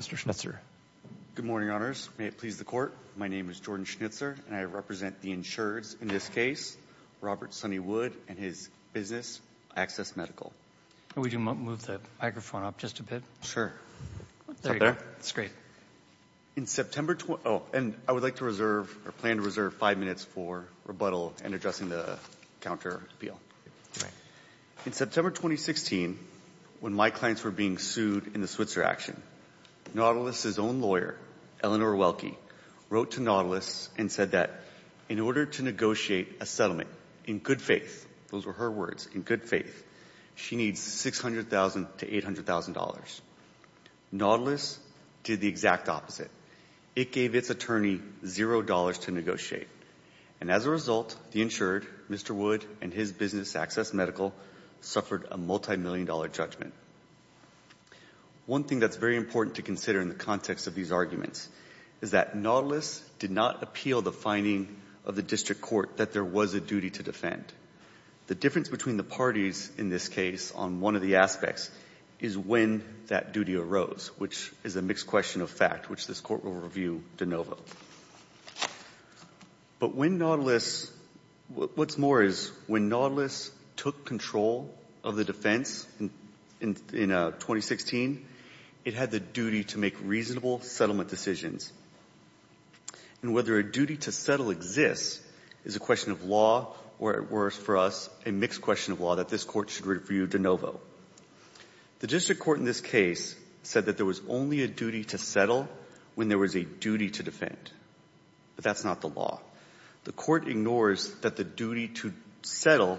Mr. Schnitzer. Good morning, Honors. May it please the Court, my name is Jordan Schnitzer and I represent the insureds in this case, Robert Sonny Wood and his business, Access Medical. Could we move the microphone up just a bit? Sure. There you go. That's great. In September, oh and I would like to reserve or plan to reserve five minutes for rebuttal and addressing the counter appeal. In September 2016, when my clients were being sued in the Switzer action, Nautilus' own lawyer, Eleanor Welke, wrote to Nautilus and said that in order to negotiate a settlement, in good faith, those were her words, in good faith, she needs $600,000 to $800,000. Nautilus did the exact opposite. It gave its attorney zero dollars to negotiate and as a result, the insured, Mr. Wood and his business, Access Medical, suffered a multi-million dollar judgment. One thing that's very important to consider in the context of these arguments is that Nautilus did not appeal the finding of the district court that there was a duty to defend. The difference between the parties in this case on one of the aspects is when that duty arose, which is a mixed question of fact, which this court will review de novo. But when Nautilus, what's more is when Nautilus took control of the defense in 2016, it had the duty to make reasonable settlement decisions. And whether a duty to settle exists is a question of law or at worst for us, a mixed question of law that this court should review de novo. The district court in this case said that there was only a duty to settle when there was a duty to defend. But that's not the law. The court ignores that the duty to settle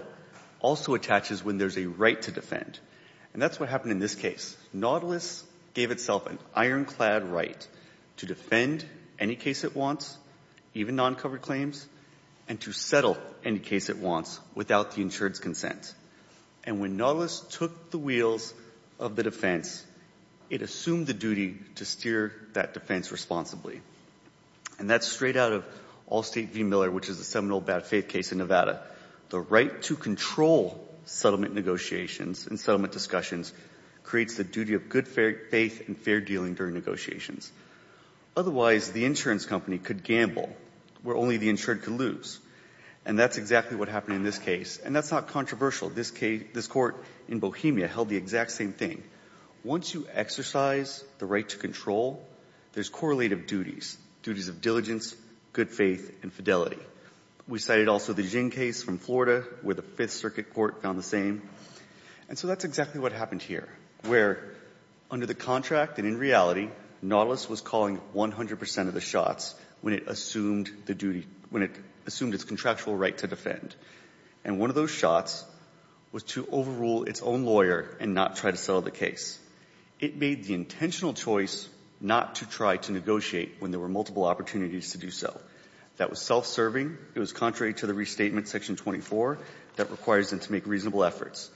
also attaches when there's a right to defend. And that's what happened in this case. Nautilus gave itself an ironclad right to defend any case it wants, even non-covered claims, and to settle any case it wants without the insured's consent. And when Nautilus took the wheels of the defense, it assumed the duty to steer that defense responsibly. And that's straight out of Allstate v. Miller, which is a seminal bad faith case in Nevada. The right to control settlement negotiations and settlement discussions creates the duty of good faith and fair dealing during negotiations. Otherwise, the insurance company could gamble where only the insured could lose. And that's exactly what happened in this case. And that's not controversial. This court in Bohemia held the exact same thing. Once you exercise the right to control, there's correlative duties, duties of diligence, good faith, and fidelity. We cited also the Ging case from Florida, where the Fifth Circuit court found the same. And so that's exactly what happened here, where under the contract and in reality, Nautilus was calling 100 percent of the shots when it assumed the duty, when it assumed its contractual right to defend. And one of those shots was to overrule its own lawyer and not try to settle the case. It made the intentional choice not to try to negotiate when there were multiple opportunities to do so. That was self-serving. It was contrary to the restatement, section 24, that requires them to make reasonable efforts.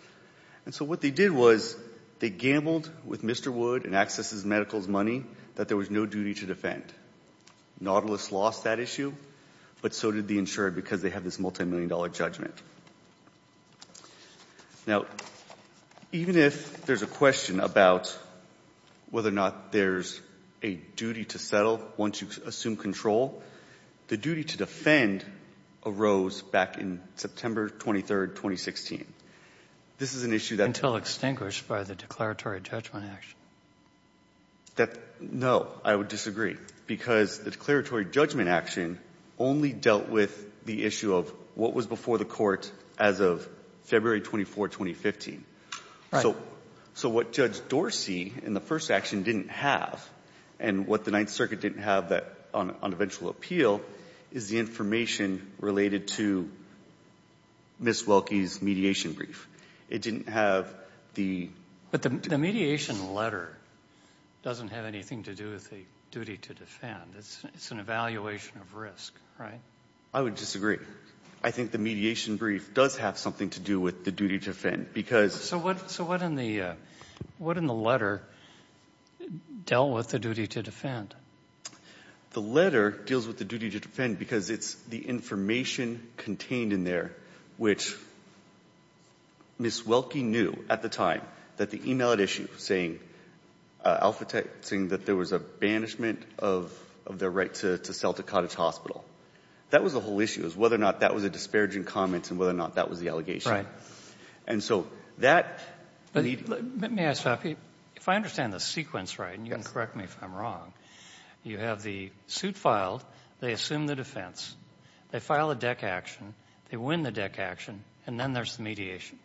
And so what they did was they gambled with Mr. Wood and Axis's medical money that there was no duty to defend. Nautilus lost that issue, but so did the insurer, because they have this multimillion-dollar judgment. Now, even if there's a question about whether or not there's a duty to settle once you assume control, the duty to defend arose back in September 23, 2016. This is an issue that Until extinguished by the declaratory judgment action. That, no, I would disagree, because the declaratory judgment action only dealt with the issue of what was before the court as of February 24, 2015. So what Judge Dorsey in the first action didn't have, and what the Ninth Circuit didn't have on eventual appeal, is the information related to Ms. Welke's mediation brief. It didn't have the But the mediation letter doesn't have anything to do with the duty to defend. It's an evaluation of risk, right? I would disagree. I think the mediation brief does have something to do with the duty to defend, because So what in the letter dealt with the duty to defend? The letter deals with the duty to defend because it's the information contained in there, which Ms. Welke knew at the time that the email at issue saying Alpha Tech saying that there was a banishment of their right to sell to Cottage Hospital. That was the whole issue, was whether or not that was a disparaging comment and whether or not that was the allegation. And so that Let me ask, if I understand the sequence right, and you can correct me if I'm wrong, you have the suit filed, they assume the defense, they file a deck action, they win the deck action, and then there's the mediation.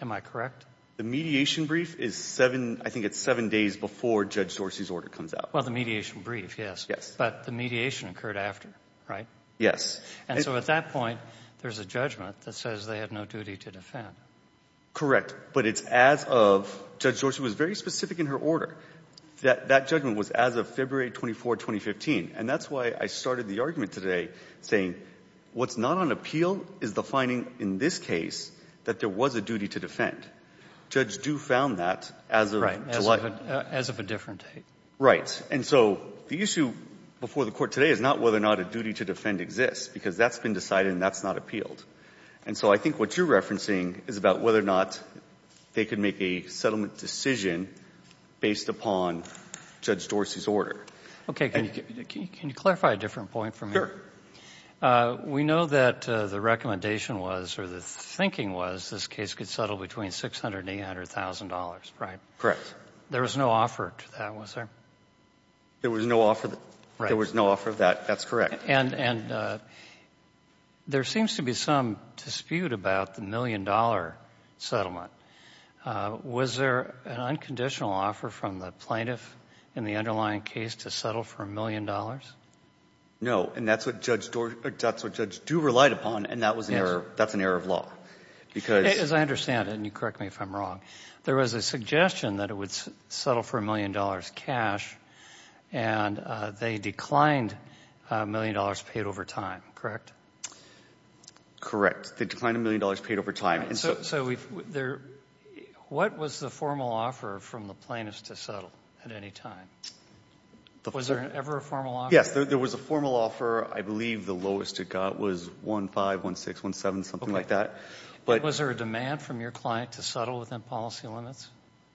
Am I correct? The mediation brief is seven, I think it's seven days before Judge Dorsey's order comes out. Well, the mediation brief, yes. But the mediation occurred after, right? Yes. And so at that point, there's a judgment that says they had no duty to defend. Correct. But it's as of Judge Dorsey was very specific in her order that that judgment was as of February 24, 2015. And that's why I started the argument today saying what's not on appeal is the finding in this case that there was a duty to defend. Judges do found that as of July. Right. As of a different date. Right. And so the issue before the Court today is not whether or not a duty to defend exists, because that's been decided and that's not appealed. And so I think what you're referencing is about whether or not they could make a settlement decision based upon Judge Dorsey's order. Okay. Can you clarify a different point for me? Sure. We know that the recommendation was, or the thinking was, this case could settle between $600,000 to $800,000, right? Correct. There was no offer to that, was there? There was no offer. Right. There was no offer of that. That's correct. And there seems to be some dispute about the million-dollar settlement. Was there an unconditional offer from the plaintiff in the underlying case to settle for a million dollars? No. And that's what Judge Dorsey or that's what Judge Duver relied upon, and that was an error. Yes. That's an error of law, because — As I understand it, and you correct me if I'm wrong, there was a suggestion that it would settle for a million dollars cash, and they declined a million dollars paid over time, correct? Correct. They declined a million dollars paid over time. All right. So what was the formal offer from the plaintiff to settle at any time? Was there ever a formal offer? Yes. There was a formal offer. I believe the lowest it got was $1500, $1600, $1700, something like that. Was there a demand from your client to settle within policy limits?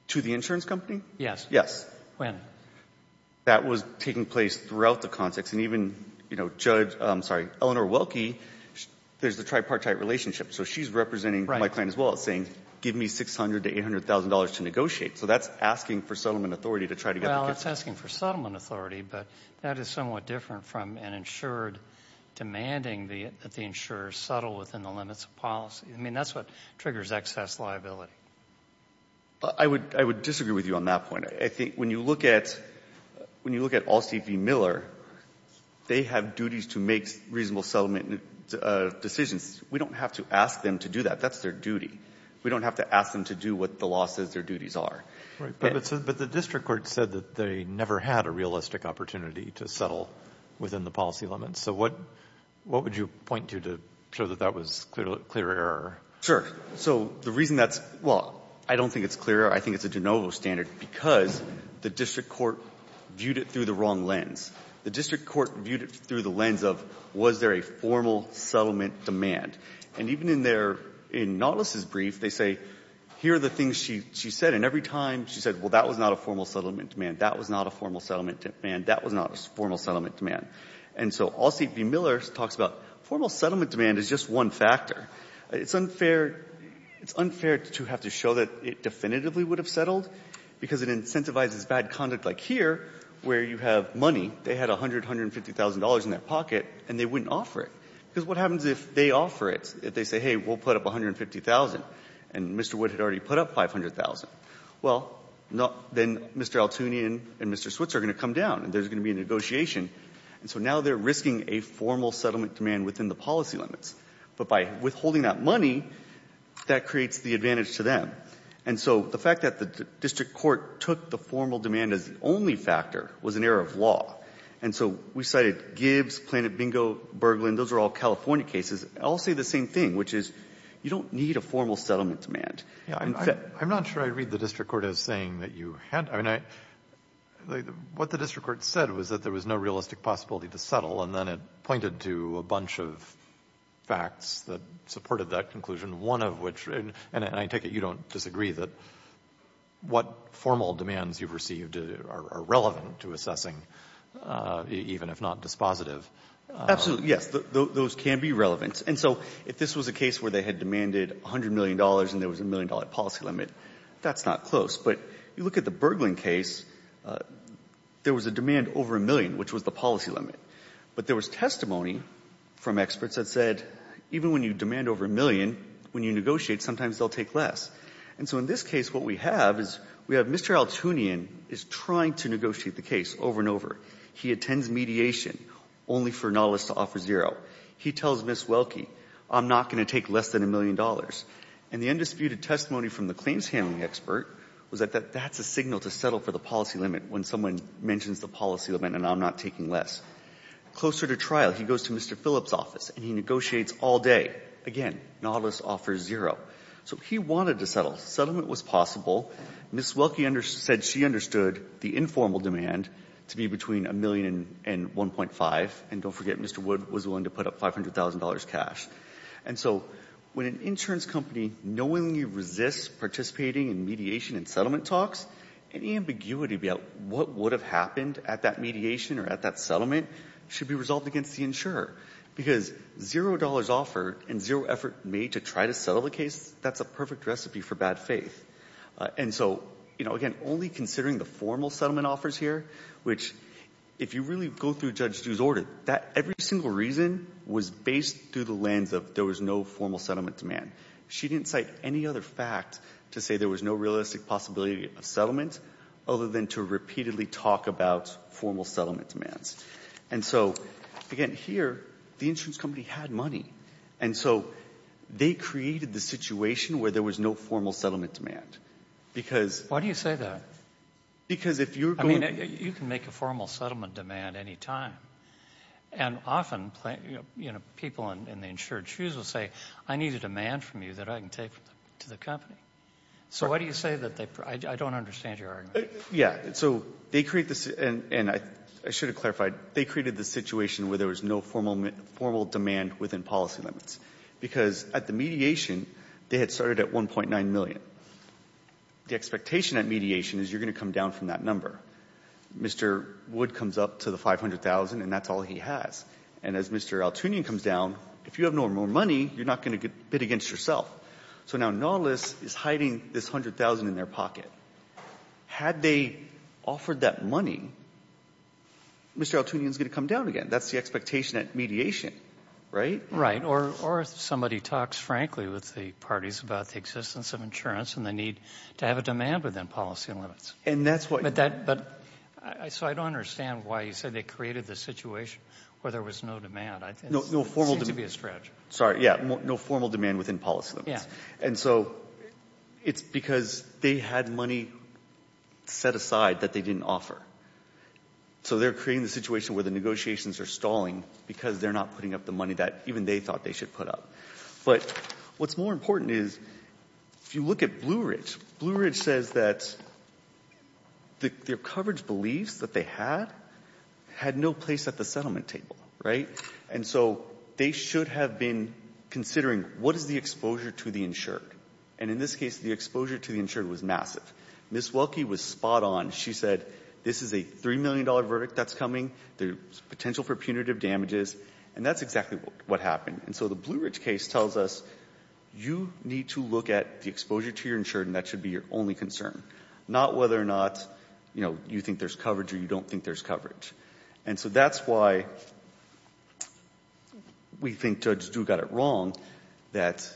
To the insurance company? Yes. Yes. When? That was taking place throughout the context, and even, you know, Judge — I'm sorry, Eleanor Welke, there's the tripartite relationship. So she's representing my client as well, saying, give me $600,000 to $800,000 to negotiate. So that's asking for settlement authority to try to get — Well, it's asking for settlement authority, but that is somewhat different from an insured demanding that the insurer settle within the limits of policy. I mean, that's what triggers excess liability. I would disagree with you on that point. I think when you look at all C.P. Miller, they have duties to make reasonable settlement decisions. We don't have to ask them to do that. That's their duty. We don't have to ask them to do what the law says their duties are. Right. But the district court said that they never had a realistic opportunity to settle within the policy limits. So what would you point to to show that that was clearer? Sure. So the reason that's — well, I don't think it's clearer. I think it's a de novo standard because the district court viewed it through the wrong lens. The district court viewed it through the lens of, was there a formal settlement demand? And even in their — in Nautilus' brief, they say, here are the things she said, and every time she said, well, that was not a formal settlement demand. That was not a formal settlement demand. That was not a formal settlement demand. And so all C.P. Miller talks about, formal settlement demand is just one factor. It's unfair — it's unfair to have to show that it definitively would have settled because it incentivizes bad conduct like here, where you have money. They had $100,000, $150,000 in their pocket, and they wouldn't offer it. Because what happens if they offer it, if they say, hey, we'll put up $150,000, and Mr. Wood had already put up $500,000? Well, then Mr. Altooni and Mr. Switzer are going to come down, and there's going to be a negotiation. And so now they're risking a formal settlement demand within the policy limits. But by withholding that money, that creates the advantage to them. And so the fact that the district court took the formal demand as the only factor was an error of law. And so we cited Gibbs, Planet Bingo, Berglin. Those are all California cases. All say the same thing, which is, you don't need a formal settlement demand. I'm not sure I read the district court as saying that you had to. I mean, what the district court said was that there was no realistic possibility to settle, and then it pointed to a bunch of facts that supported that conclusion, one of which, and I take it you don't disagree, that what formal demands you've received are relevant to assessing, even if not dispositive. Absolutely, yes. Those can be relevant. And so if this was a case where they had demanded $100 million and there was a million-dollar policy limit, that's not close. But you look at the Berglin case, there was a demand over a million, which was the policy limit. But there was testimony from experts that said, even when you demand over a million, when you negotiate, sometimes they'll take less. And so in this case, what we have is we have Mr. Altunian is trying to negotiate the case over and over. He attends mediation only for Nautilus to offer zero. He tells Ms. Welke, I'm not going to take less than a million dollars. And the undisputed testimony from the claims handling expert was that that's a signal to settle for the policy limit when someone mentions the policy limit and I'm not taking less. Closer to trial, he goes to Mr. Phillips' office and he negotiates all day. Again, Nautilus offers zero. So he wanted to settle. Settlement was possible. Ms. Welke said she understood the informal demand to be between a million and 1.5, and don't forget Mr. Wood was willing to put up $500,000 cash. And so when an insurance company knowingly resists participating in mediation and settlement talks, any ambiguity about what would have happened at that mediation or at that settlement should be resolved against the insurer. Because zero dollars offered and zero effort made to try to settle the case, that's a perfect recipe for bad faith. And so, you know, again, only considering the formal settlement offers here, which is, if you really go through Judge Du's order, that every single reason was based through the lens of there was no formal settlement demand. She didn't cite any other fact to say there was no realistic possibility of settlement other than to repeatedly talk about formal settlement demands. And so, again, here, the insurance company had money. And so they created the situation where there was no formal settlement demand, because why do you say that? Because if you're going to you can make a formal settlement demand any time. And often, you know, people in the insured shoes will say, I need a demand from you that I can take to the company. So why do you say that they, I don't understand your argument. Yeah, so they create this, and I should have clarified, they created the situation where there was no formal demand within policy limits. Because at the mediation, they had started at 1.9 million. The expectation at mediation is you're going to come down from that number. Mr. Wood comes up to the 500,000, and that's all he has. And as Mr. Altunian comes down, if you have no more money, you're not going to bid against yourself. So now Nautilus is hiding this 100,000 in their pocket. Had they offered that money, Mr. Altunian is going to come down again. That's the expectation at mediation, right? Right. Or if somebody talks frankly with the parties about the existence of insurance and the need to have a demand within policy limits. And that's what. But that, but, so I don't understand why you said they created the situation where there was no demand. No, no formal demand. It seems to be a stretch. Sorry, yeah, no formal demand within policy limits. Yeah. And so it's because they had money set aside that they didn't offer. So they're creating the situation where the negotiations are stalling because they're not putting up the money that even they thought they should put up. But what's more important is, if you look at Blueridge, Blueridge says that their coverage beliefs that they had, had no place at the settlement table, right? And so they should have been considering what is the exposure to the insured. And in this case, the exposure to the insured was massive. Ms. Welke was spot on. She said this is a $3 million verdict that's coming. There's potential for punitive damages. And that's exactly what happened. And so the Blueridge case tells us, you need to look at the exposure to your insured and that should be your only concern. Not whether or not, you know, you think there's coverage or you don't think there's coverage. And so that's why we think Judge Du got it wrong that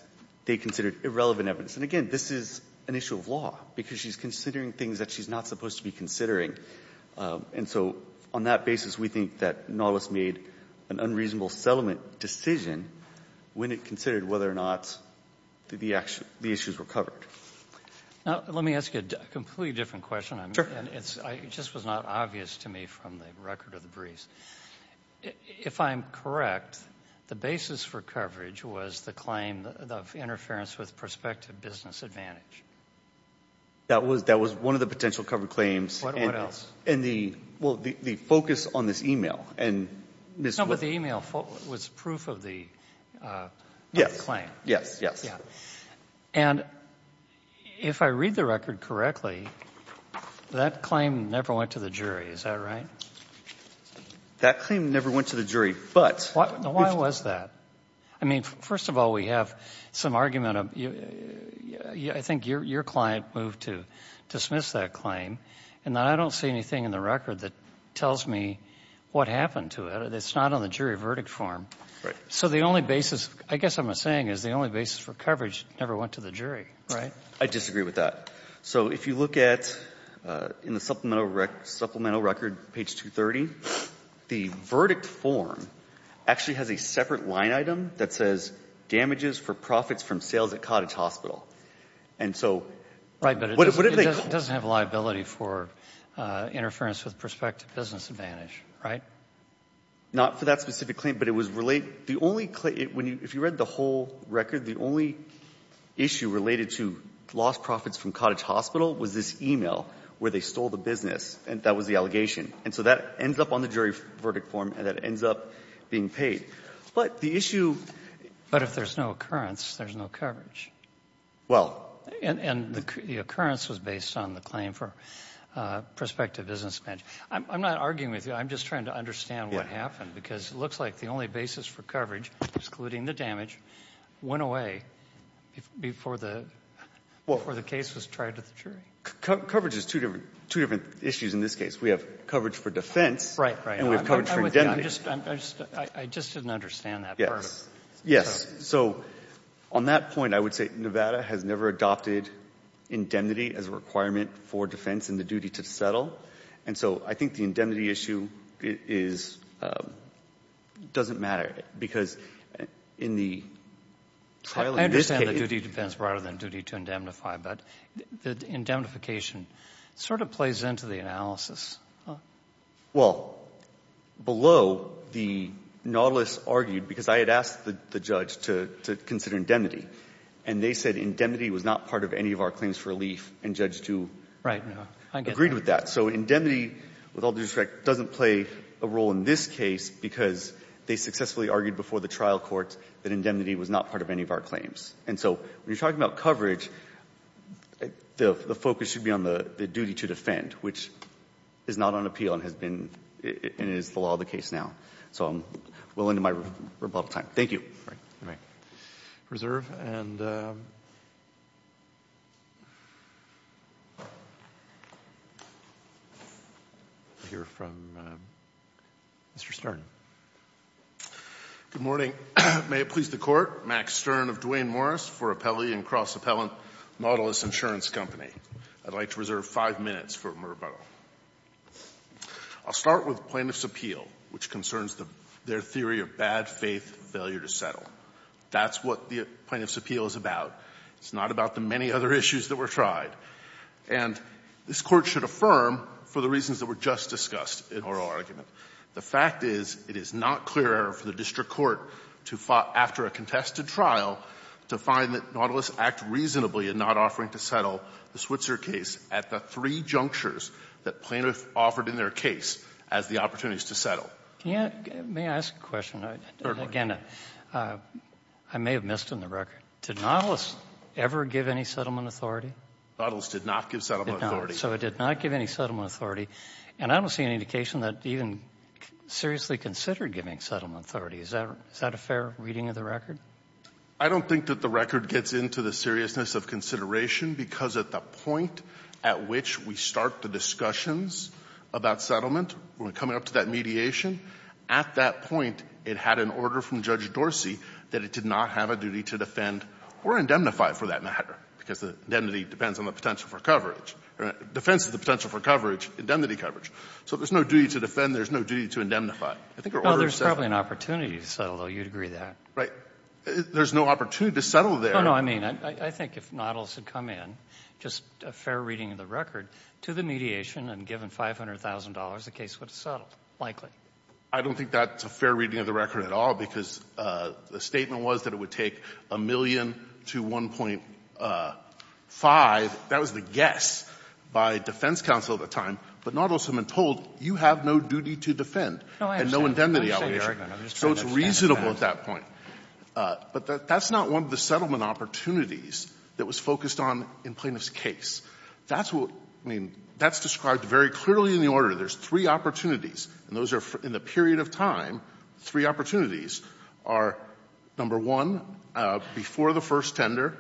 they considered irrelevant evidence. And again, this is an issue of law, because she's considering things that she's not supposed to be considering. And so on that basis, we think that Nautilus made an unreasonable settlement decision when it considered whether or not the issues were covered. Now, let me ask you a completely different question. And it just was not obvious to me from the record of the briefs. If I'm correct, the basis for coverage was the claim of interference with prospective business advantage. That was one of the potential covered claims. What else? And the, well, the focus on this email and Ms. Welke... Yes. ...claim. Yes, yes. Yeah. And if I read the record correctly, that claim never went to the jury. Is that right? That claim never went to the jury, but... Why was that? I mean, first of all, we have some argument of, I think your client moved to dismiss that claim. And I don't see anything in the record that tells me what happened to it. It's not on the jury verdict form. Right. So the only basis, I guess what I'm saying is the only basis for coverage never went to the jury, right? I disagree with that. So if you look at, in the supplemental record, page 230, the verdict form actually has a separate line item that says damages for profits from sales at Cottage Hospital. And so... Right, but it doesn't have liability for interference with prospective business advantage, right? Not for that specific claim, but it was related. The only claim, if you read the whole record, the only issue related to lost profits from Cottage Hospital was this e-mail where they stole the business, and that was the allegation. And so that ends up on the jury verdict form, and that ends up being paid. But the issue... But if there's no occurrence, there's no coverage. Well... And the occurrence was based on the claim for prospective business advantage. I'm not arguing with you. I'm just trying to understand what happened, because it looks like the only basis for coverage, excluding the damage, went away before the case was tried to the jury. Coverage is two different issues in this case. We have coverage for defense... Right, right. ...and we have coverage for indemnity. I'm just, I just didn't understand that part. Yes. Yes. So on that point, I would say Nevada has never adopted indemnity as a I think the indemnity issue is, doesn't matter, because in the trial in this case... I understand the duty to defense rather than duty to indemnify, but the indemnification sort of plays into the analysis. Well, below, the Nautilus argued, because I had asked the judge to consider indemnity, and they said indemnity was not part of any of our claims for relief, and Judge Tu... Right, no. I get that. ...agreed with that. So indemnity, with all due respect, doesn't play a role in this case, because they successfully argued before the trial court that indemnity was not part of any of our claims. And so when you're talking about coverage, the focus should be on the duty to defend, which is not on appeal and has been, and is the law of the case now. So I'm well into my rebuttal time. Thank you. Okay. You may reserve. And we'll hear from Mr. Stern. Good morning. May it please the Court, Max Stern of Duane Morris for Appellee and Cross-Appellant Nautilus Insurance Company. I'd like to reserve five minutes for rebuttal. I'll start with Plaintiff's Appeal, which concerns their theory of bad faith, failure to settle. That's what the Plaintiff's Appeal is about. It's not about the many other issues that were tried. And this Court should affirm, for the reasons that were just discussed in the oral argument, the fact is it is not clear for the district court to, after a contested trial, to find that Nautilus act reasonably in not offering to settle the Switzer case at the three junctures that plaintiff offered in their case as the opportunities to settle. May I ask a question? Certainly. Again, I may have missed on the record. Did Nautilus ever give any settlement authority? Nautilus did not give settlement authority. It did not. So it did not give any settlement authority. And I don't see any indication that even seriously considered giving settlement authority. Is that a fair reading of the record? I don't think that the record gets into the seriousness of consideration, because at the point at which we start the discussions about settlement, we're up to that mediation. At that point, it had an order from Judge Dorsey that it did not have a duty to defend or indemnify, for that matter, because the indemnity depends on the potential for coverage. Defense of the potential for coverage, indemnity coverage. So if there's no duty to defend, there's no duty to indemnify. Well, there's probably an opportunity to settle, though. You'd agree with that. Right. There's no opportunity to settle there. Oh, no. I mean, I think if Nautilus had come in, just a fair reading of the record, to the mediation and given $500,000, the case would have settled, likely. I don't think that's a fair reading of the record at all, because the statement was that it would take a million to 1.5. That was the guess by defense counsel at the time. But Nautilus had been told, you have no duty to defend and no indemnity allocation. So it's reasonable at that point. But that's not one of the settlement opportunities that was focused on in Plaintiff's case. That's what we mean. That's described very clearly in the order. There's three opportunities. And those are, in the period of time, three opportunities are, number one, before the first tender,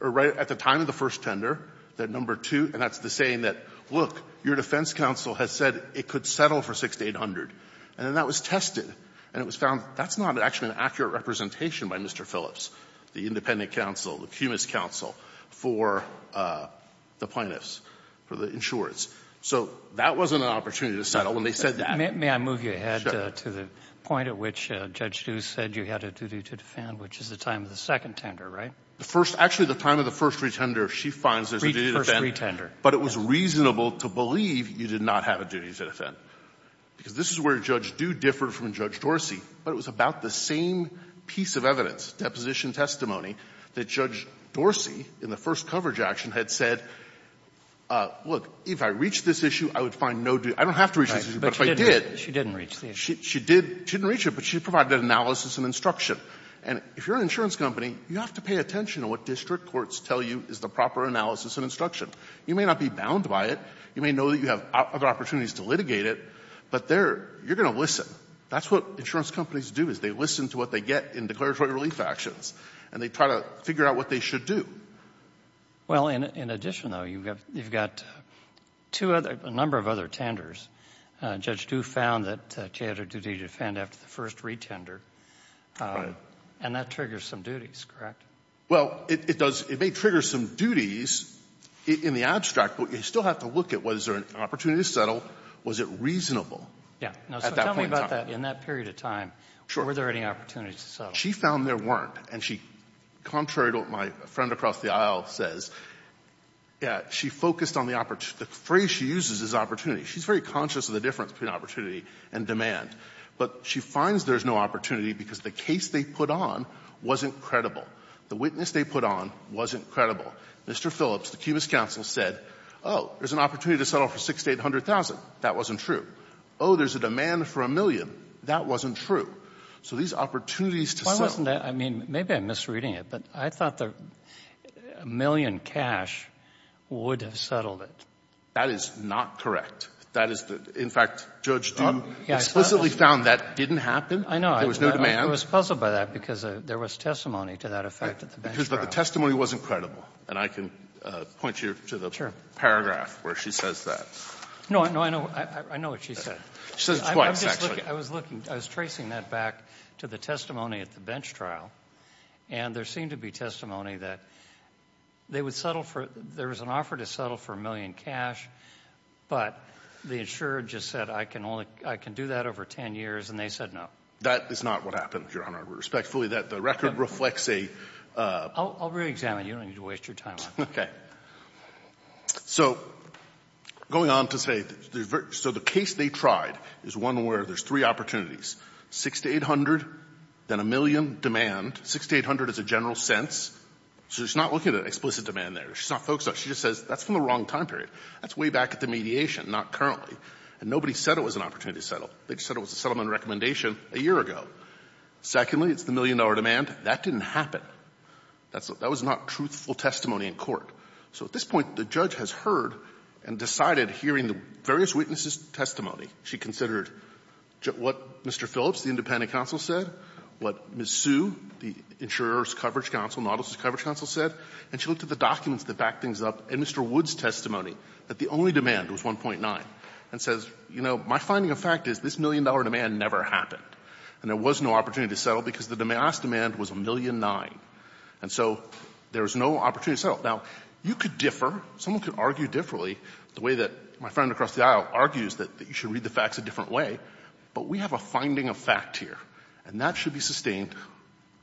or right at the time of the first tender, that number two, and that's the saying that, look, your defense counsel has said it could settle for 6800. And then that was tested, and it was found that's not actually an accurate representation by Mr. Phillips, the independent counsel, the cumulus counsel, for the plaintiffs, for the insurers. So that wasn't an opportunity to settle, and they said that. May I move you ahead to the point at which Judge Due said you had a duty to defend, which is the time of the second tender, right? The first — actually, the time of the first retender, she finds there's a duty to defend. First retender. But it was reasonable to believe you did not have a duty to defend, because this is where Judge Due differed from Judge Dorsey. But it was about the same piece of evidence, deposition testimony, that Judge Dorsey in the first coverage action had said, look, if I reach this issue, I would find no duty — I don't have to reach this issue, but if I did — But she didn't reach it. She didn't reach it, but she provided analysis and instruction. And if you're an insurance company, you have to pay attention to what district courts tell you is the proper analysis and instruction. You may not be bound by it. You may know that you have other opportunities to litigate it, but there, you're going to listen. That's what insurance companies do, is they listen to what they get in declaratory relief actions, and they try to figure out what they should do. Well, in addition, though, you've got two other — a number of other tenders. Judge Due found that she had a duty to defend after the first retender. Right. And that triggers some duties, correct? Well, it does — it may trigger some duties in the abstract, but you still have to look at was there an opportunity to settle, was it reasonable at that point in time? Yeah. Now, so tell me about that. In that period of time, were there any opportunities to settle? She found there weren't. And she, contrary to what my friend across the aisle says, she focused on the opportunity — the phrase she uses is opportunity. She's very conscious of the difference between opportunity and demand. But she finds there's no opportunity because the case they put on wasn't credible. The witness they put on wasn't credible. Mr. Phillips, the Cubas counsel, said, oh, there's an opportunity to settle for $6,800,000. That wasn't true. Oh, there's a demand for a million. That wasn't true. So these opportunities to settle — Why wasn't that — I mean, maybe I'm misreading it, but I thought the million cash would have settled it. That is not correct. That is the — in fact, Judge Due explicitly found that didn't happen. I know. There was no demand. I was puzzled by that because there was testimony to that effect at the bench trial. But the testimony wasn't credible. And I can point you to the paragraph where she says that. No, I know what she said. She says it twice, actually. I was looking — I was tracing that back to the testimony at the bench trial. And there seemed to be testimony that they would settle for — there was an offer to settle for a million cash, but the insurer just said, I can only — I can do that over 10 years, and they said no. That is not what happened, Your Honor. Respectfully, that — the record reflects a — I'll re-examine. You don't need to waste your time on that. Okay. So going on to say — so the case they tried is one where there's three opportunities, 6 to 800, then a million demand. 6 to 800 is a general sense. So she's not looking at an explicit demand there. She's not focused on — she just says that's from the wrong time period. That's way back at the mediation, not currently. And nobody said it was an opportunity to settle. They said it was a settlement recommendation a year ago. Secondly, it's the million-dollar demand. That didn't happen. That was not truthful testimony in court. So at this point, the judge has heard and decided, hearing the various witnesses' testimony, she considered what Mr. Phillips, the independent counsel, said, what Ms. Sue, the insurer's coverage counsel, Nautilus' coverage counsel, said, and she looked at the documents that back things up and Mr. Woods' testimony, that the only demand was 1.9, and says, you know, my finding of fact is this million-dollar demand never happened, and there was no opportunity to settle because the last demand was 1,000,009. And so there was no opportunity to settle. Now, you could differ. Someone could argue differently, the way that my friend across the aisle argues that you should read the facts a different way. But we have a finding of fact here, and that should be sustained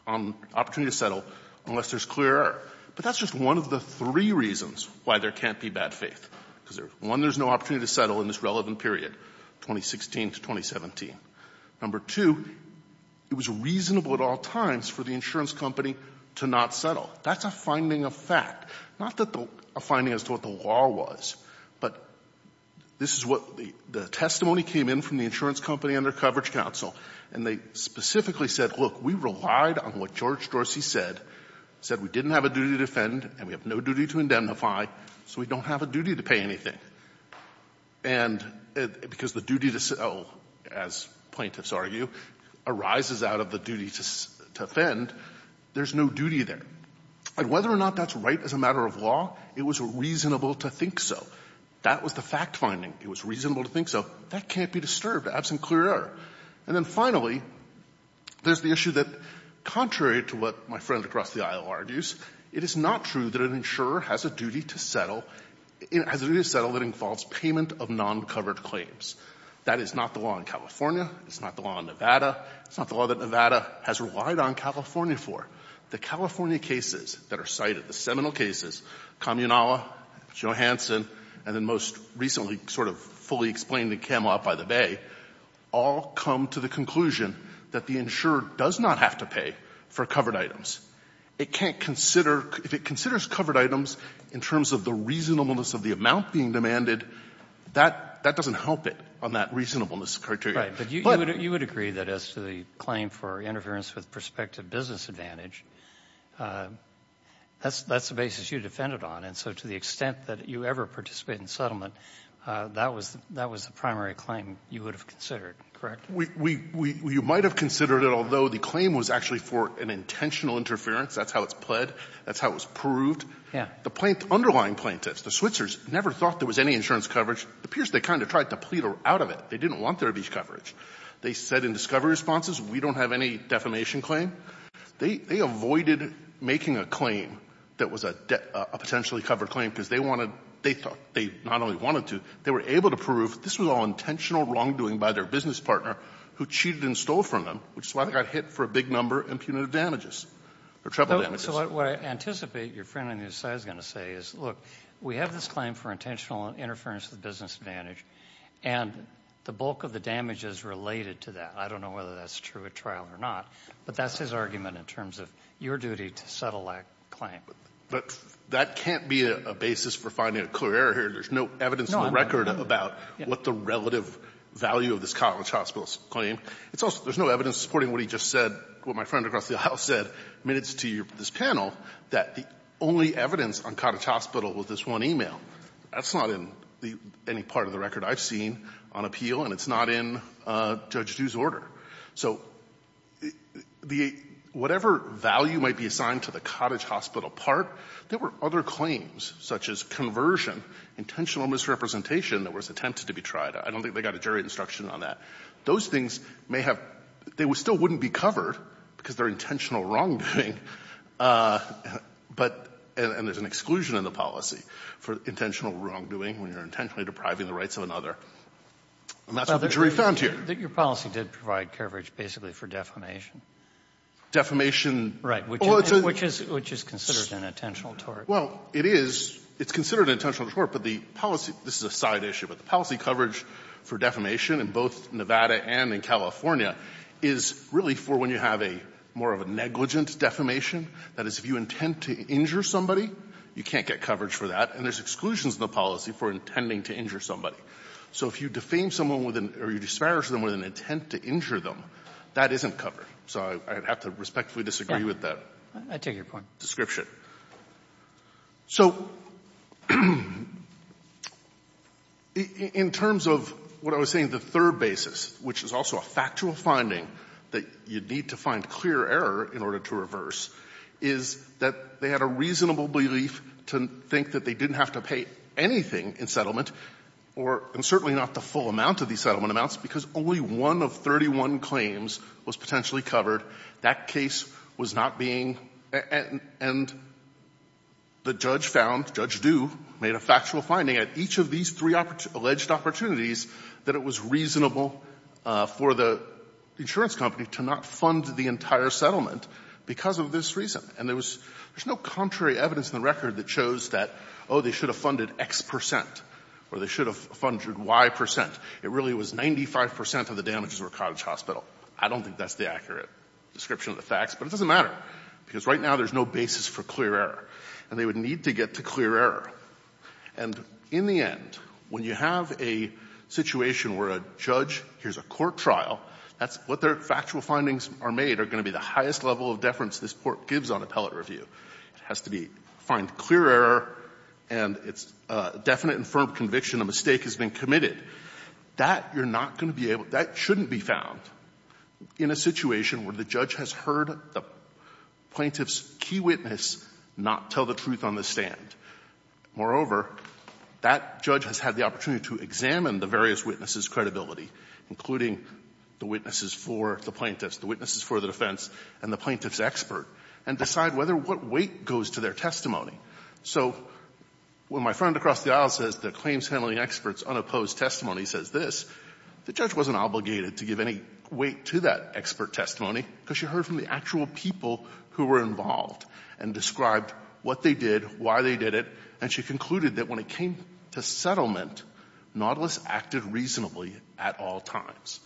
on opportunity to settle unless there's clear error. But that's just one of the three reasons why there can't be bad faith, because, one, there's no opportunity to settle in this relevant period, 2016 to 2017. Number two, it was reasonable at all times for the insurance company to not settle. That's a finding of fact, not a finding as to what the law was. But this is what the testimony came in from the insurance company and their coverage counsel, and they specifically said, look, we relied on what George Dorsey said, said we didn't have a duty to defend and we have no duty to indemnify, so we don't have a duty to pay anything. And because the duty to settle, as plaintiffs argue, arises out of the duty to defend, there's no duty there. And whether or not that's right as a matter of law, it was reasonable to think so. That was the fact finding. It was reasonable to think so. That can't be disturbed absent clear error. And then finally, there's the issue that, contrary to what my friend across the aisle argues, it is not true that an insurer has a duty to settle, has a duty to settle if it involves payment of non-covered claims. That is not the law in California. It's not the law in Nevada. It's not the law that Nevada has relied on California for. The California cases that are cited, the seminal cases, Kamianawa, Johansson, and then most recently sort of fully explained in Camelot by the Bay, all come to the conclusion that the insurer does not have to pay for covered items. It can't consider, if it considers covered items in terms of the reasonableness of the amount being demanded, that doesn't help it on that reasonableness criteria. But you would agree that as to the claim for interference with prospective business advantage, that's the basis you defended on. And so to the extent that you ever participate in settlement, that was the primary claim you would have considered, correct? We might have considered it, although the claim was actually for an intentional interference. That's how it's pled. That's how it was proved. Yeah. The plaintiff, underlying plaintiffs, the Switzers, never thought there was any insurance coverage. It appears they kind of tried to plead out of it. They didn't want there to be coverage. They said in discovery responses, we don't have any defamation claim. They avoided making a claim that was a potentially covered claim because they wanted to they thought they not only wanted to, they were able to prove this was all intentional wrongdoing by their business partner who cheated and stole from them, which is why they got hit for a big number and punitive damages or treble damages. So what I anticipate your friend on the other side is going to say is, look, we have this claim for intentional interference with business advantage, and the bulk of the damage is related to that. I don't know whether that's true at trial or not, but that's his argument in terms of your duty to settle that claim. But that can't be a basis for finding a clear error here. There's no evidence on the record about what the relative value of this college hospital's claim. It's also, there's no evidence supporting what he just said, what my friend across the aisle said minutes to this panel, that the only evidence on cottage hospital was this one e-mail. That's not in any part of the record I've seen on appeal, and it's not in Judge Du's order. So the – whatever value might be assigned to the cottage hospital part, there were other claims such as conversion, intentional misrepresentation that was attempted to be tried. I don't think they got a jury instruction on that. Those things may have – they still wouldn't be covered because they're intentional wrongdoing, but – and there's an exclusion in the policy for intentional wrongdoing when you're intentionally depriving the rights of another. And that's what the jury found here. But your policy did provide coverage basically for defamation. Defamation – Right. Which is considered an intentional tort. Well, it is. It's considered an intentional tort, but the policy – this is a side issue, but the policy coverage for defamation in both Nevada and in California is really for when you have a – more of a negligent defamation, that is, if you intend to injure somebody, you can't get coverage for that, and there's exclusions in the policy for intending to injure somebody. So if you defame someone with an – or you disparage them with an intent to injure them, that isn't covered. So I'd have to respectfully disagree with the description. So in terms of what I was saying, the third basis, which is also a factual finding that you'd need to find clear error in order to reverse, is that they had a reasonable belief to think that they didn't have to pay anything in settlement or – and certainly not the full amount of these settlement amounts, because only one of 31 claims was potentially covered. That case was not being – and the judge found, Judge Dueh made a factual finding at each of these three alleged opportunities that it was reasonable for the insurance company to not fund the entire settlement because of this reason. And there was – there's no contrary evidence in the record that shows that, oh, they should have funded X percent or they should have funded Y percent. It really was 95 percent of the damages were Cottage Hospital. I don't think that's the accurate. Description of the facts, but it doesn't matter, because right now there's no basis for clear error. And they would need to get to clear error. And in the end, when you have a situation where a judge – here's a court trial. That's what their factual findings are made are going to be the highest level of deference this Court gives on appellate review. It has to be – find clear error and it's a definite and firm conviction a mistake has been committed. That you're not going to be able – that shouldn't be found in a situation where the judge has heard the plaintiff's key witness not tell the truth on the stand. Moreover, that judge has had the opportunity to examine the various witnesses' credibility, including the witnesses for the plaintiffs, the witnesses for the defense, and the plaintiff's expert, and decide whether what weight goes to their testimony. So when my friend across the aisle says the claims handling expert's unopposed testimony says this, the judge wasn't obligated to give any weight to that expert testimony, because she heard from the actual people who were involved and described what they did, why they did it, and she concluded that when it came to settlement, Nautilus acted reasonably at all times.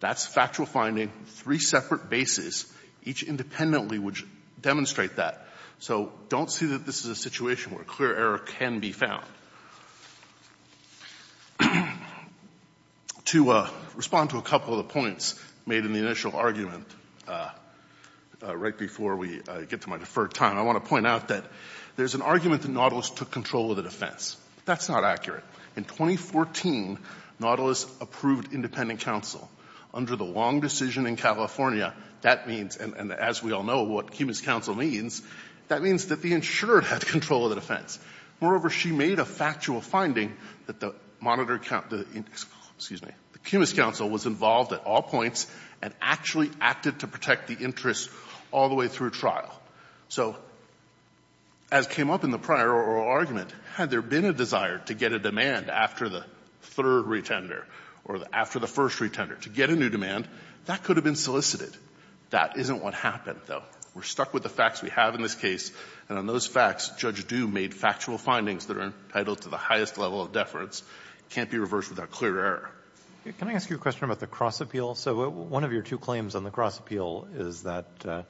That's factual finding, three separate bases, each independently would demonstrate that. So don't see that this is a situation where clear error can be found. To respond to a couple of the points made in the initial argument, right before we get to my deferred time, I want to point out that there's an argument that Nautilus took control of the defense. That's not accurate. In 2014, Nautilus approved independent counsel. Under the long decision in California, that means – and as we all know, what human rights counsel means, that means that the insured had control of the defense. Moreover, she made a factual finding that the monitor – excuse me – the cumulus counsel was involved at all points and actually acted to protect the interests all the way through trial. So as came up in the prior oral argument, had there been a desire to get a demand after the third retender or after the first retender to get a new demand, that could have been solicited. That isn't what happened, though. We're stuck with the facts we have in this case. And on those facts, Judge Du made factual findings that are entitled to the highest level of deference. It can't be reversed without clear error. Can I ask you a question about the cross-appeal? So one of your two claims on the cross-appeal is that the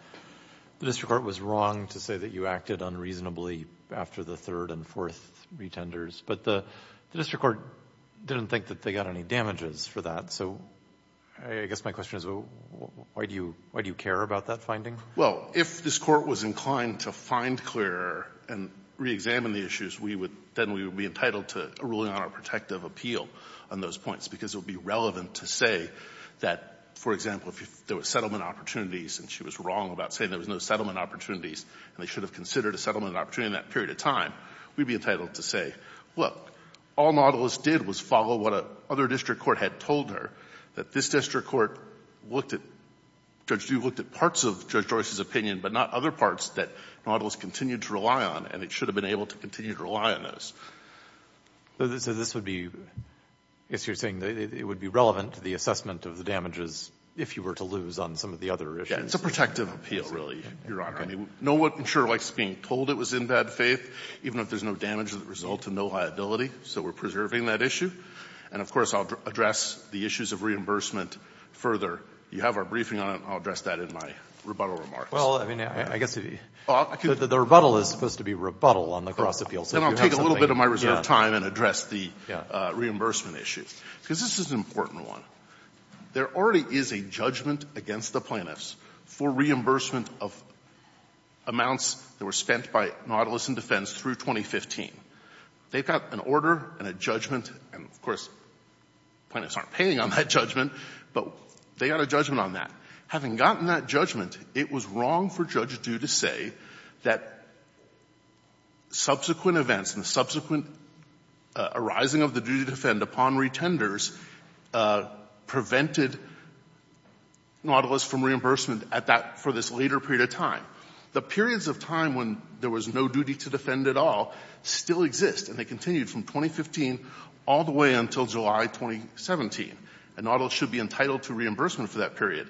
district court was wrong to say that you acted unreasonably after the third and fourth retenders. But the district court didn't think that they got any damages for that. So I guess my question is, why do you care about that finding? Well, if this Court was inclined to find clear error and reexamine the issues, we would — then we would be entitled to a ruling on our protective appeal on those points because it would be relevant to say that, for example, if there were settlement opportunities and she was wrong about saying there was no settlement opportunities and they should have considered a settlement opportunity in that period of time, we'd be entitled to say, look, all Nautilus did was follow what a other district court had told her, that this district court looked at — Judge, you looked at parts of Judge Joyce's opinion, but not other parts that Nautilus continued to rely on and it should have been able to continue to rely on those. So this would be — I guess you're saying that it would be relevant to the assessment of the damages if you were to lose on some of the other issues. Yes. It's a protective appeal, really, Your Honor. Okay. I mean, no one, I'm sure, likes being told it was in bad faith, even if there's no damage that resulted, no liability. So we're preserving that issue. And, of course, I'll address the issues of reimbursement further. You have our briefing on it. I'll address that in my rebuttal remarks. Well, I mean, I guess — Well, I can — The rebuttal is supposed to be rebuttal on the cross-appeals. Then I'll take a little bit of my reserved time and address the reimbursement issue, because this is an important one. There already is a judgment against the plaintiffs for reimbursement of amounts that were spent by Nautilus and Defense through 2015. They've got an order and a judgment, and, of course, plaintiffs aren't paying on that judgment, but they got a judgment on that. Having gotten that judgment, it was wrong for Judge Due to say that subsequent events and the subsequent arising of the duty to defend upon retenders prevented Nautilus from reimbursement at that — for this later period of time. The periods of time when there was no duty to defend at all still exist, and they continued from 2015 all the way until July 2017, and Nautilus should be entitled to reimbursement for that period.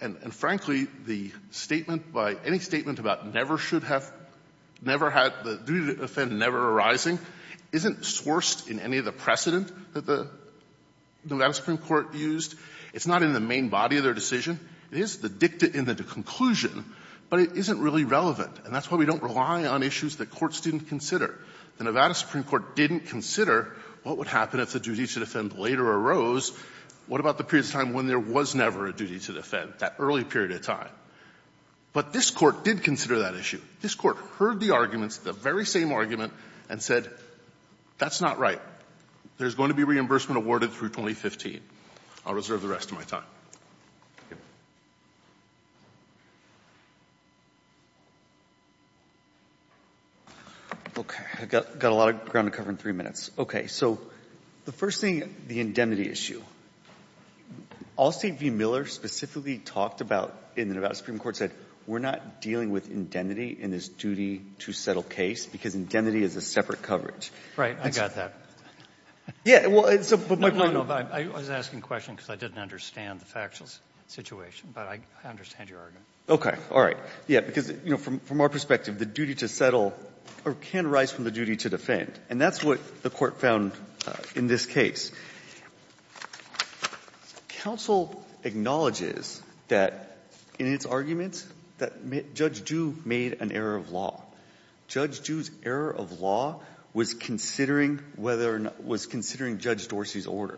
And, frankly, the statement by — any statement about never should have — never had the duty to defend never arising isn't sourced in any of the precedent that the — the U.S. Supreme Court used. It's not in the main body of their decision. It is the dicta in the conclusion, but it isn't really relevant. And that's why we don't rely on issues that courts didn't consider. The Nevada Supreme Court didn't consider what would happen if the duty to defend later arose. What about the periods of time when there was never a duty to defend, that early period of time? But this Court did consider that issue. This Court heard the arguments, the very same argument, and said, that's not right. There's going to be reimbursement awarded through 2015. I'll reserve the rest of my time. Look, I've got a lot of ground to cover in three minutes. Okay, so the first thing, the indemnity issue. Allstate v. Miller specifically talked about in the Nevada Supreme Court said, we're not dealing with indemnity in this duty-to-settle case because indemnity is a separate coverage. Right, I got that. Yeah, well, it's a — No, but I was asking a question because I didn't understand the factual situation, but I understand your argument. Okay, all right. Yeah, because, you know, from our perspective, the duty to settle can arise from the duty to defend. And that's what the Court found in this case. Counsel acknowledges that, in its arguments, that Judge Due made an error of law. Judge Due's error of law was considering whether or not — was considering Judge Dorsey's order.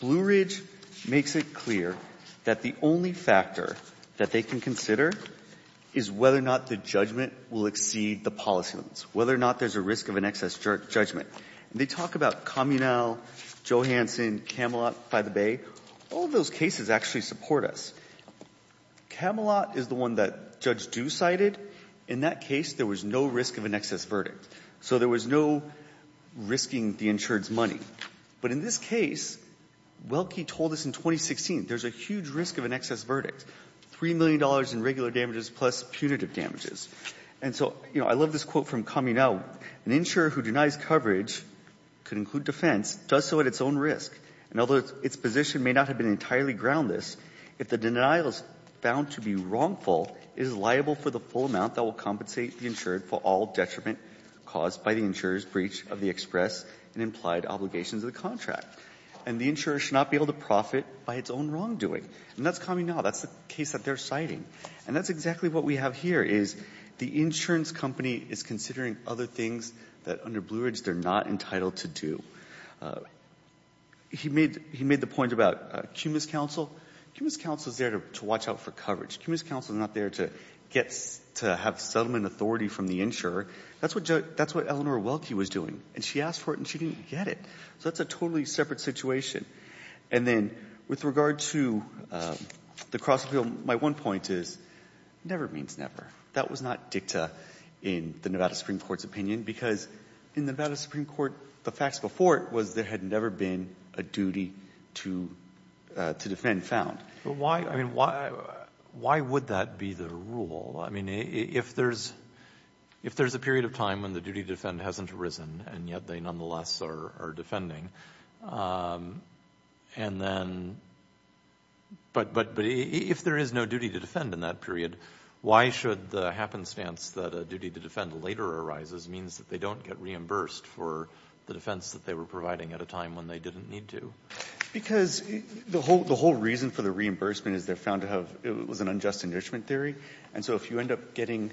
Blue Ridge makes it clear that the only factor that they can consider is whether or not the judgment will exceed the policy limits, whether or not there's a risk of an excess judgment. And they talk about Kamenel, Johansson, Camelot by the Bay. All of those cases actually support us. Camelot is the one that Judge Due cited. In that case, there was no risk of an excess verdict. So there was no risking the insured's money. But in this case, Welke told us in 2016, there's a huge risk of an excess verdict, $3 million in regular damages plus punitive damages. And so, you know, I love this quote from Kamenel. An insurer who denies coverage could include defense, does so at its own risk. And although its position may not have been entirely groundless, if the denial is found to be wrongful, it is liable for the full amount that will compensate the insured for all detriment caused by the insurer's breach of the express and implied obligations of the contract. And the insurer should not be able to profit by its own wrongdoing. And that's Kamenel. That's the case that they're citing. And that's exactly what we have here, is the insurance company is considering other things that under Blue Ridge they're not entitled to do. He made the point about CUMIS counsel. CUMIS counsel is there to watch out for coverage. CUMIS counsel is not there to have settlement authority from the insurer. That's what Eleanor Welke was doing. And she asked for it, and she didn't get it. So that's a totally separate situation. And then with regard to the cross-appeal, my one point is, never means never. That was not dicta in the Nevada Supreme Court's opinion, because in the Nevada Supreme Court, the facts before it was there had never been a duty to defend found. But why, I mean, why would that be the rule? I mean, if there's a period of time when the duty to defend hasn't arisen, and yet they nonetheless are defending, and then, but if there is no duty to defend in that period, why should the happenstance that a duty to defend later arises means that they don't get reimbursed for the defense that they were providing at a time when they didn't need to? Because the whole reason for the reimbursement is they're found to have, it was an unjust enrichment theory. And so if you end up getting,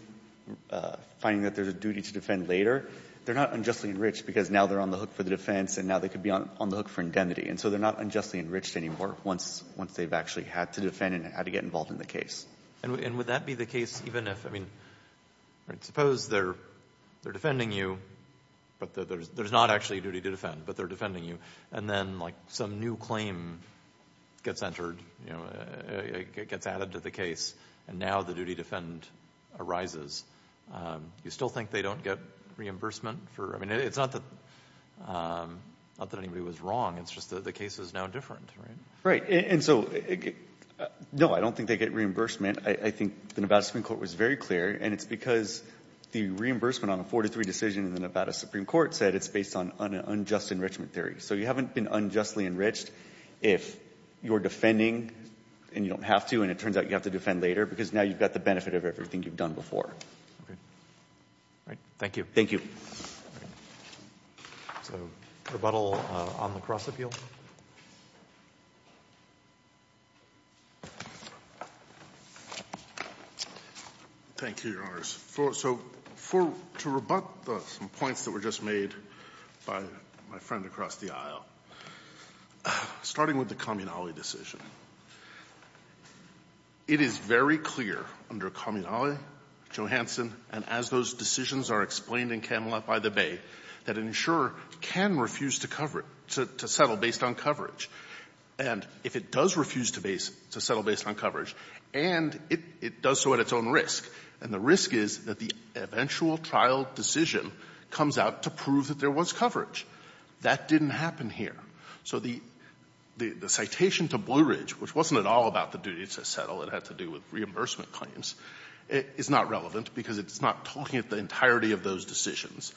finding that there's a duty to defend later, they're not unjustly enriched because now they're on the hook for the defense and now they could be on the hook for indemnity. And so they're not unjustly enriched anymore once they've actually had to defend and had to get involved in the case. And would that be the case even if, I mean, suppose they're defending you, but there's not actually a duty to defend, but they're defending you. And then, like, some new claim gets entered, you know, gets added to the case, and now the duty to defend arises. Do you still think they don't get reimbursement for, I mean, it's not that anybody was wrong, it's just that the case is now different, right? Right. And so, no, I don't think they get reimbursement. I think the Nevada Supreme Court was very clear, and it's because the reimbursement on a 43 decision in the Nevada Supreme Court said it's based on an unjust enrichment theory. So you haven't been unjustly enriched if you're defending and you don't have to and it turns out you have to defend later because now you've got the benefit of everything you've done before. All right. Thank you. All right. So, rebuttal on the cross-appeal. Thank you, Your Honors. So, to rebut some points that were just made by my friend across the aisle, starting with the Kamenali decision. It is very clear under Kamenali, Johansen, and as those decisions are explained in Kamelot by the Bay, that an insurer can refuse to cover it, to settle based on coverage. And if it does refuse to settle based on coverage, and it does so at its own risk, and the risk is that the eventual trial decision comes out to prove that there was coverage. That didn't happen here. So the citation to Blue Ridge, which wasn't at all about the duty to settle, it had to do with reimbursement claims, is not relevant because it's not talking at the entirety of those decisions.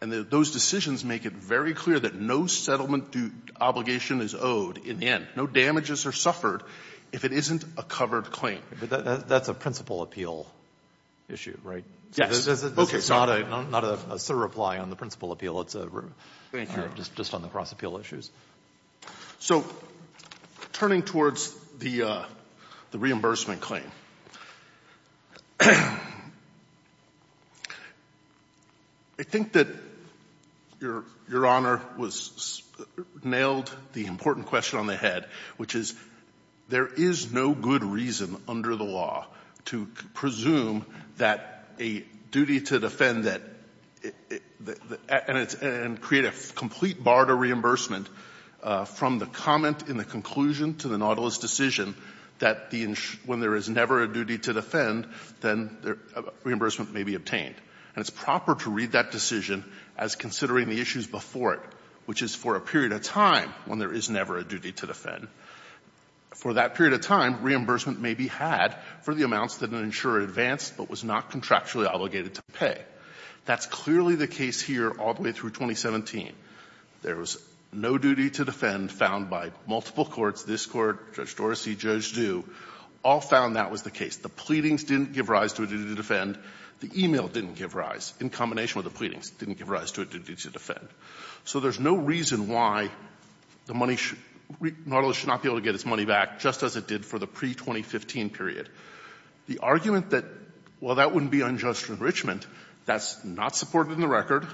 And those decisions make it very clear that no settlement obligation is owed in the end. No damages are suffered if it isn't a covered claim. That's a principal appeal issue, right? This is not a surreply on the principal appeal. It's just on the cross-appeal issues. So, turning towards the reimbursement claim, I think that Your Honor nailed the important question on the head, which is there is no good reason under the law to presume that a duty to defend and create a complete bar to reimbursement from the comment in the conclusion to the Nautilus decision that when there is never a duty to defend, then reimbursement may be obtained. And it's proper to read that decision as considering the issues before it, which is for a period of time when there is never a duty to defend. For that period of time, reimbursement may be had for the amounts that an insurer advanced but was not contractually obligated to pay. That's clearly the case here all the way through 2017. There was no duty to defend found by multiple courts. This Court, Judge Dorsey, Judge Du, all found that was the case. The pleadings didn't give rise to a duty to defend. The e-mail didn't give rise, in combination with the pleadings, didn't give rise to a duty to defend. So there's no reason why the money should, Nautilus should not be able to get its money back, just as it did for the pre-2015 period. The argument that while that wouldn't be unjust enrichment, that's not supported in the record,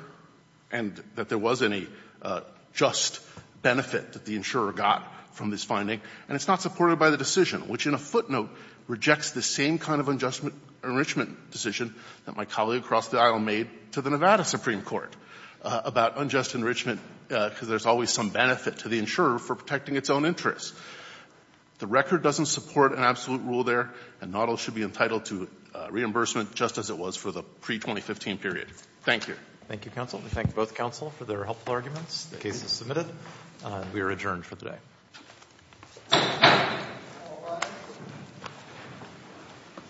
and that there wasn't a just benefit that the insurer got from this finding, and it's not supported by the decision, which in a footnote rejects the same kind of unjust enrichment decision that my colleague across the aisle made to the insurer for protecting its own interests. The record doesn't support an absolute rule there, and Nautilus should be entitled to reimbursement just as it was for the pre-2015 period. Thank you. Thank you, counsel. We thank both counsel for their helpful arguments. The case is submitted. We are adjourned for today.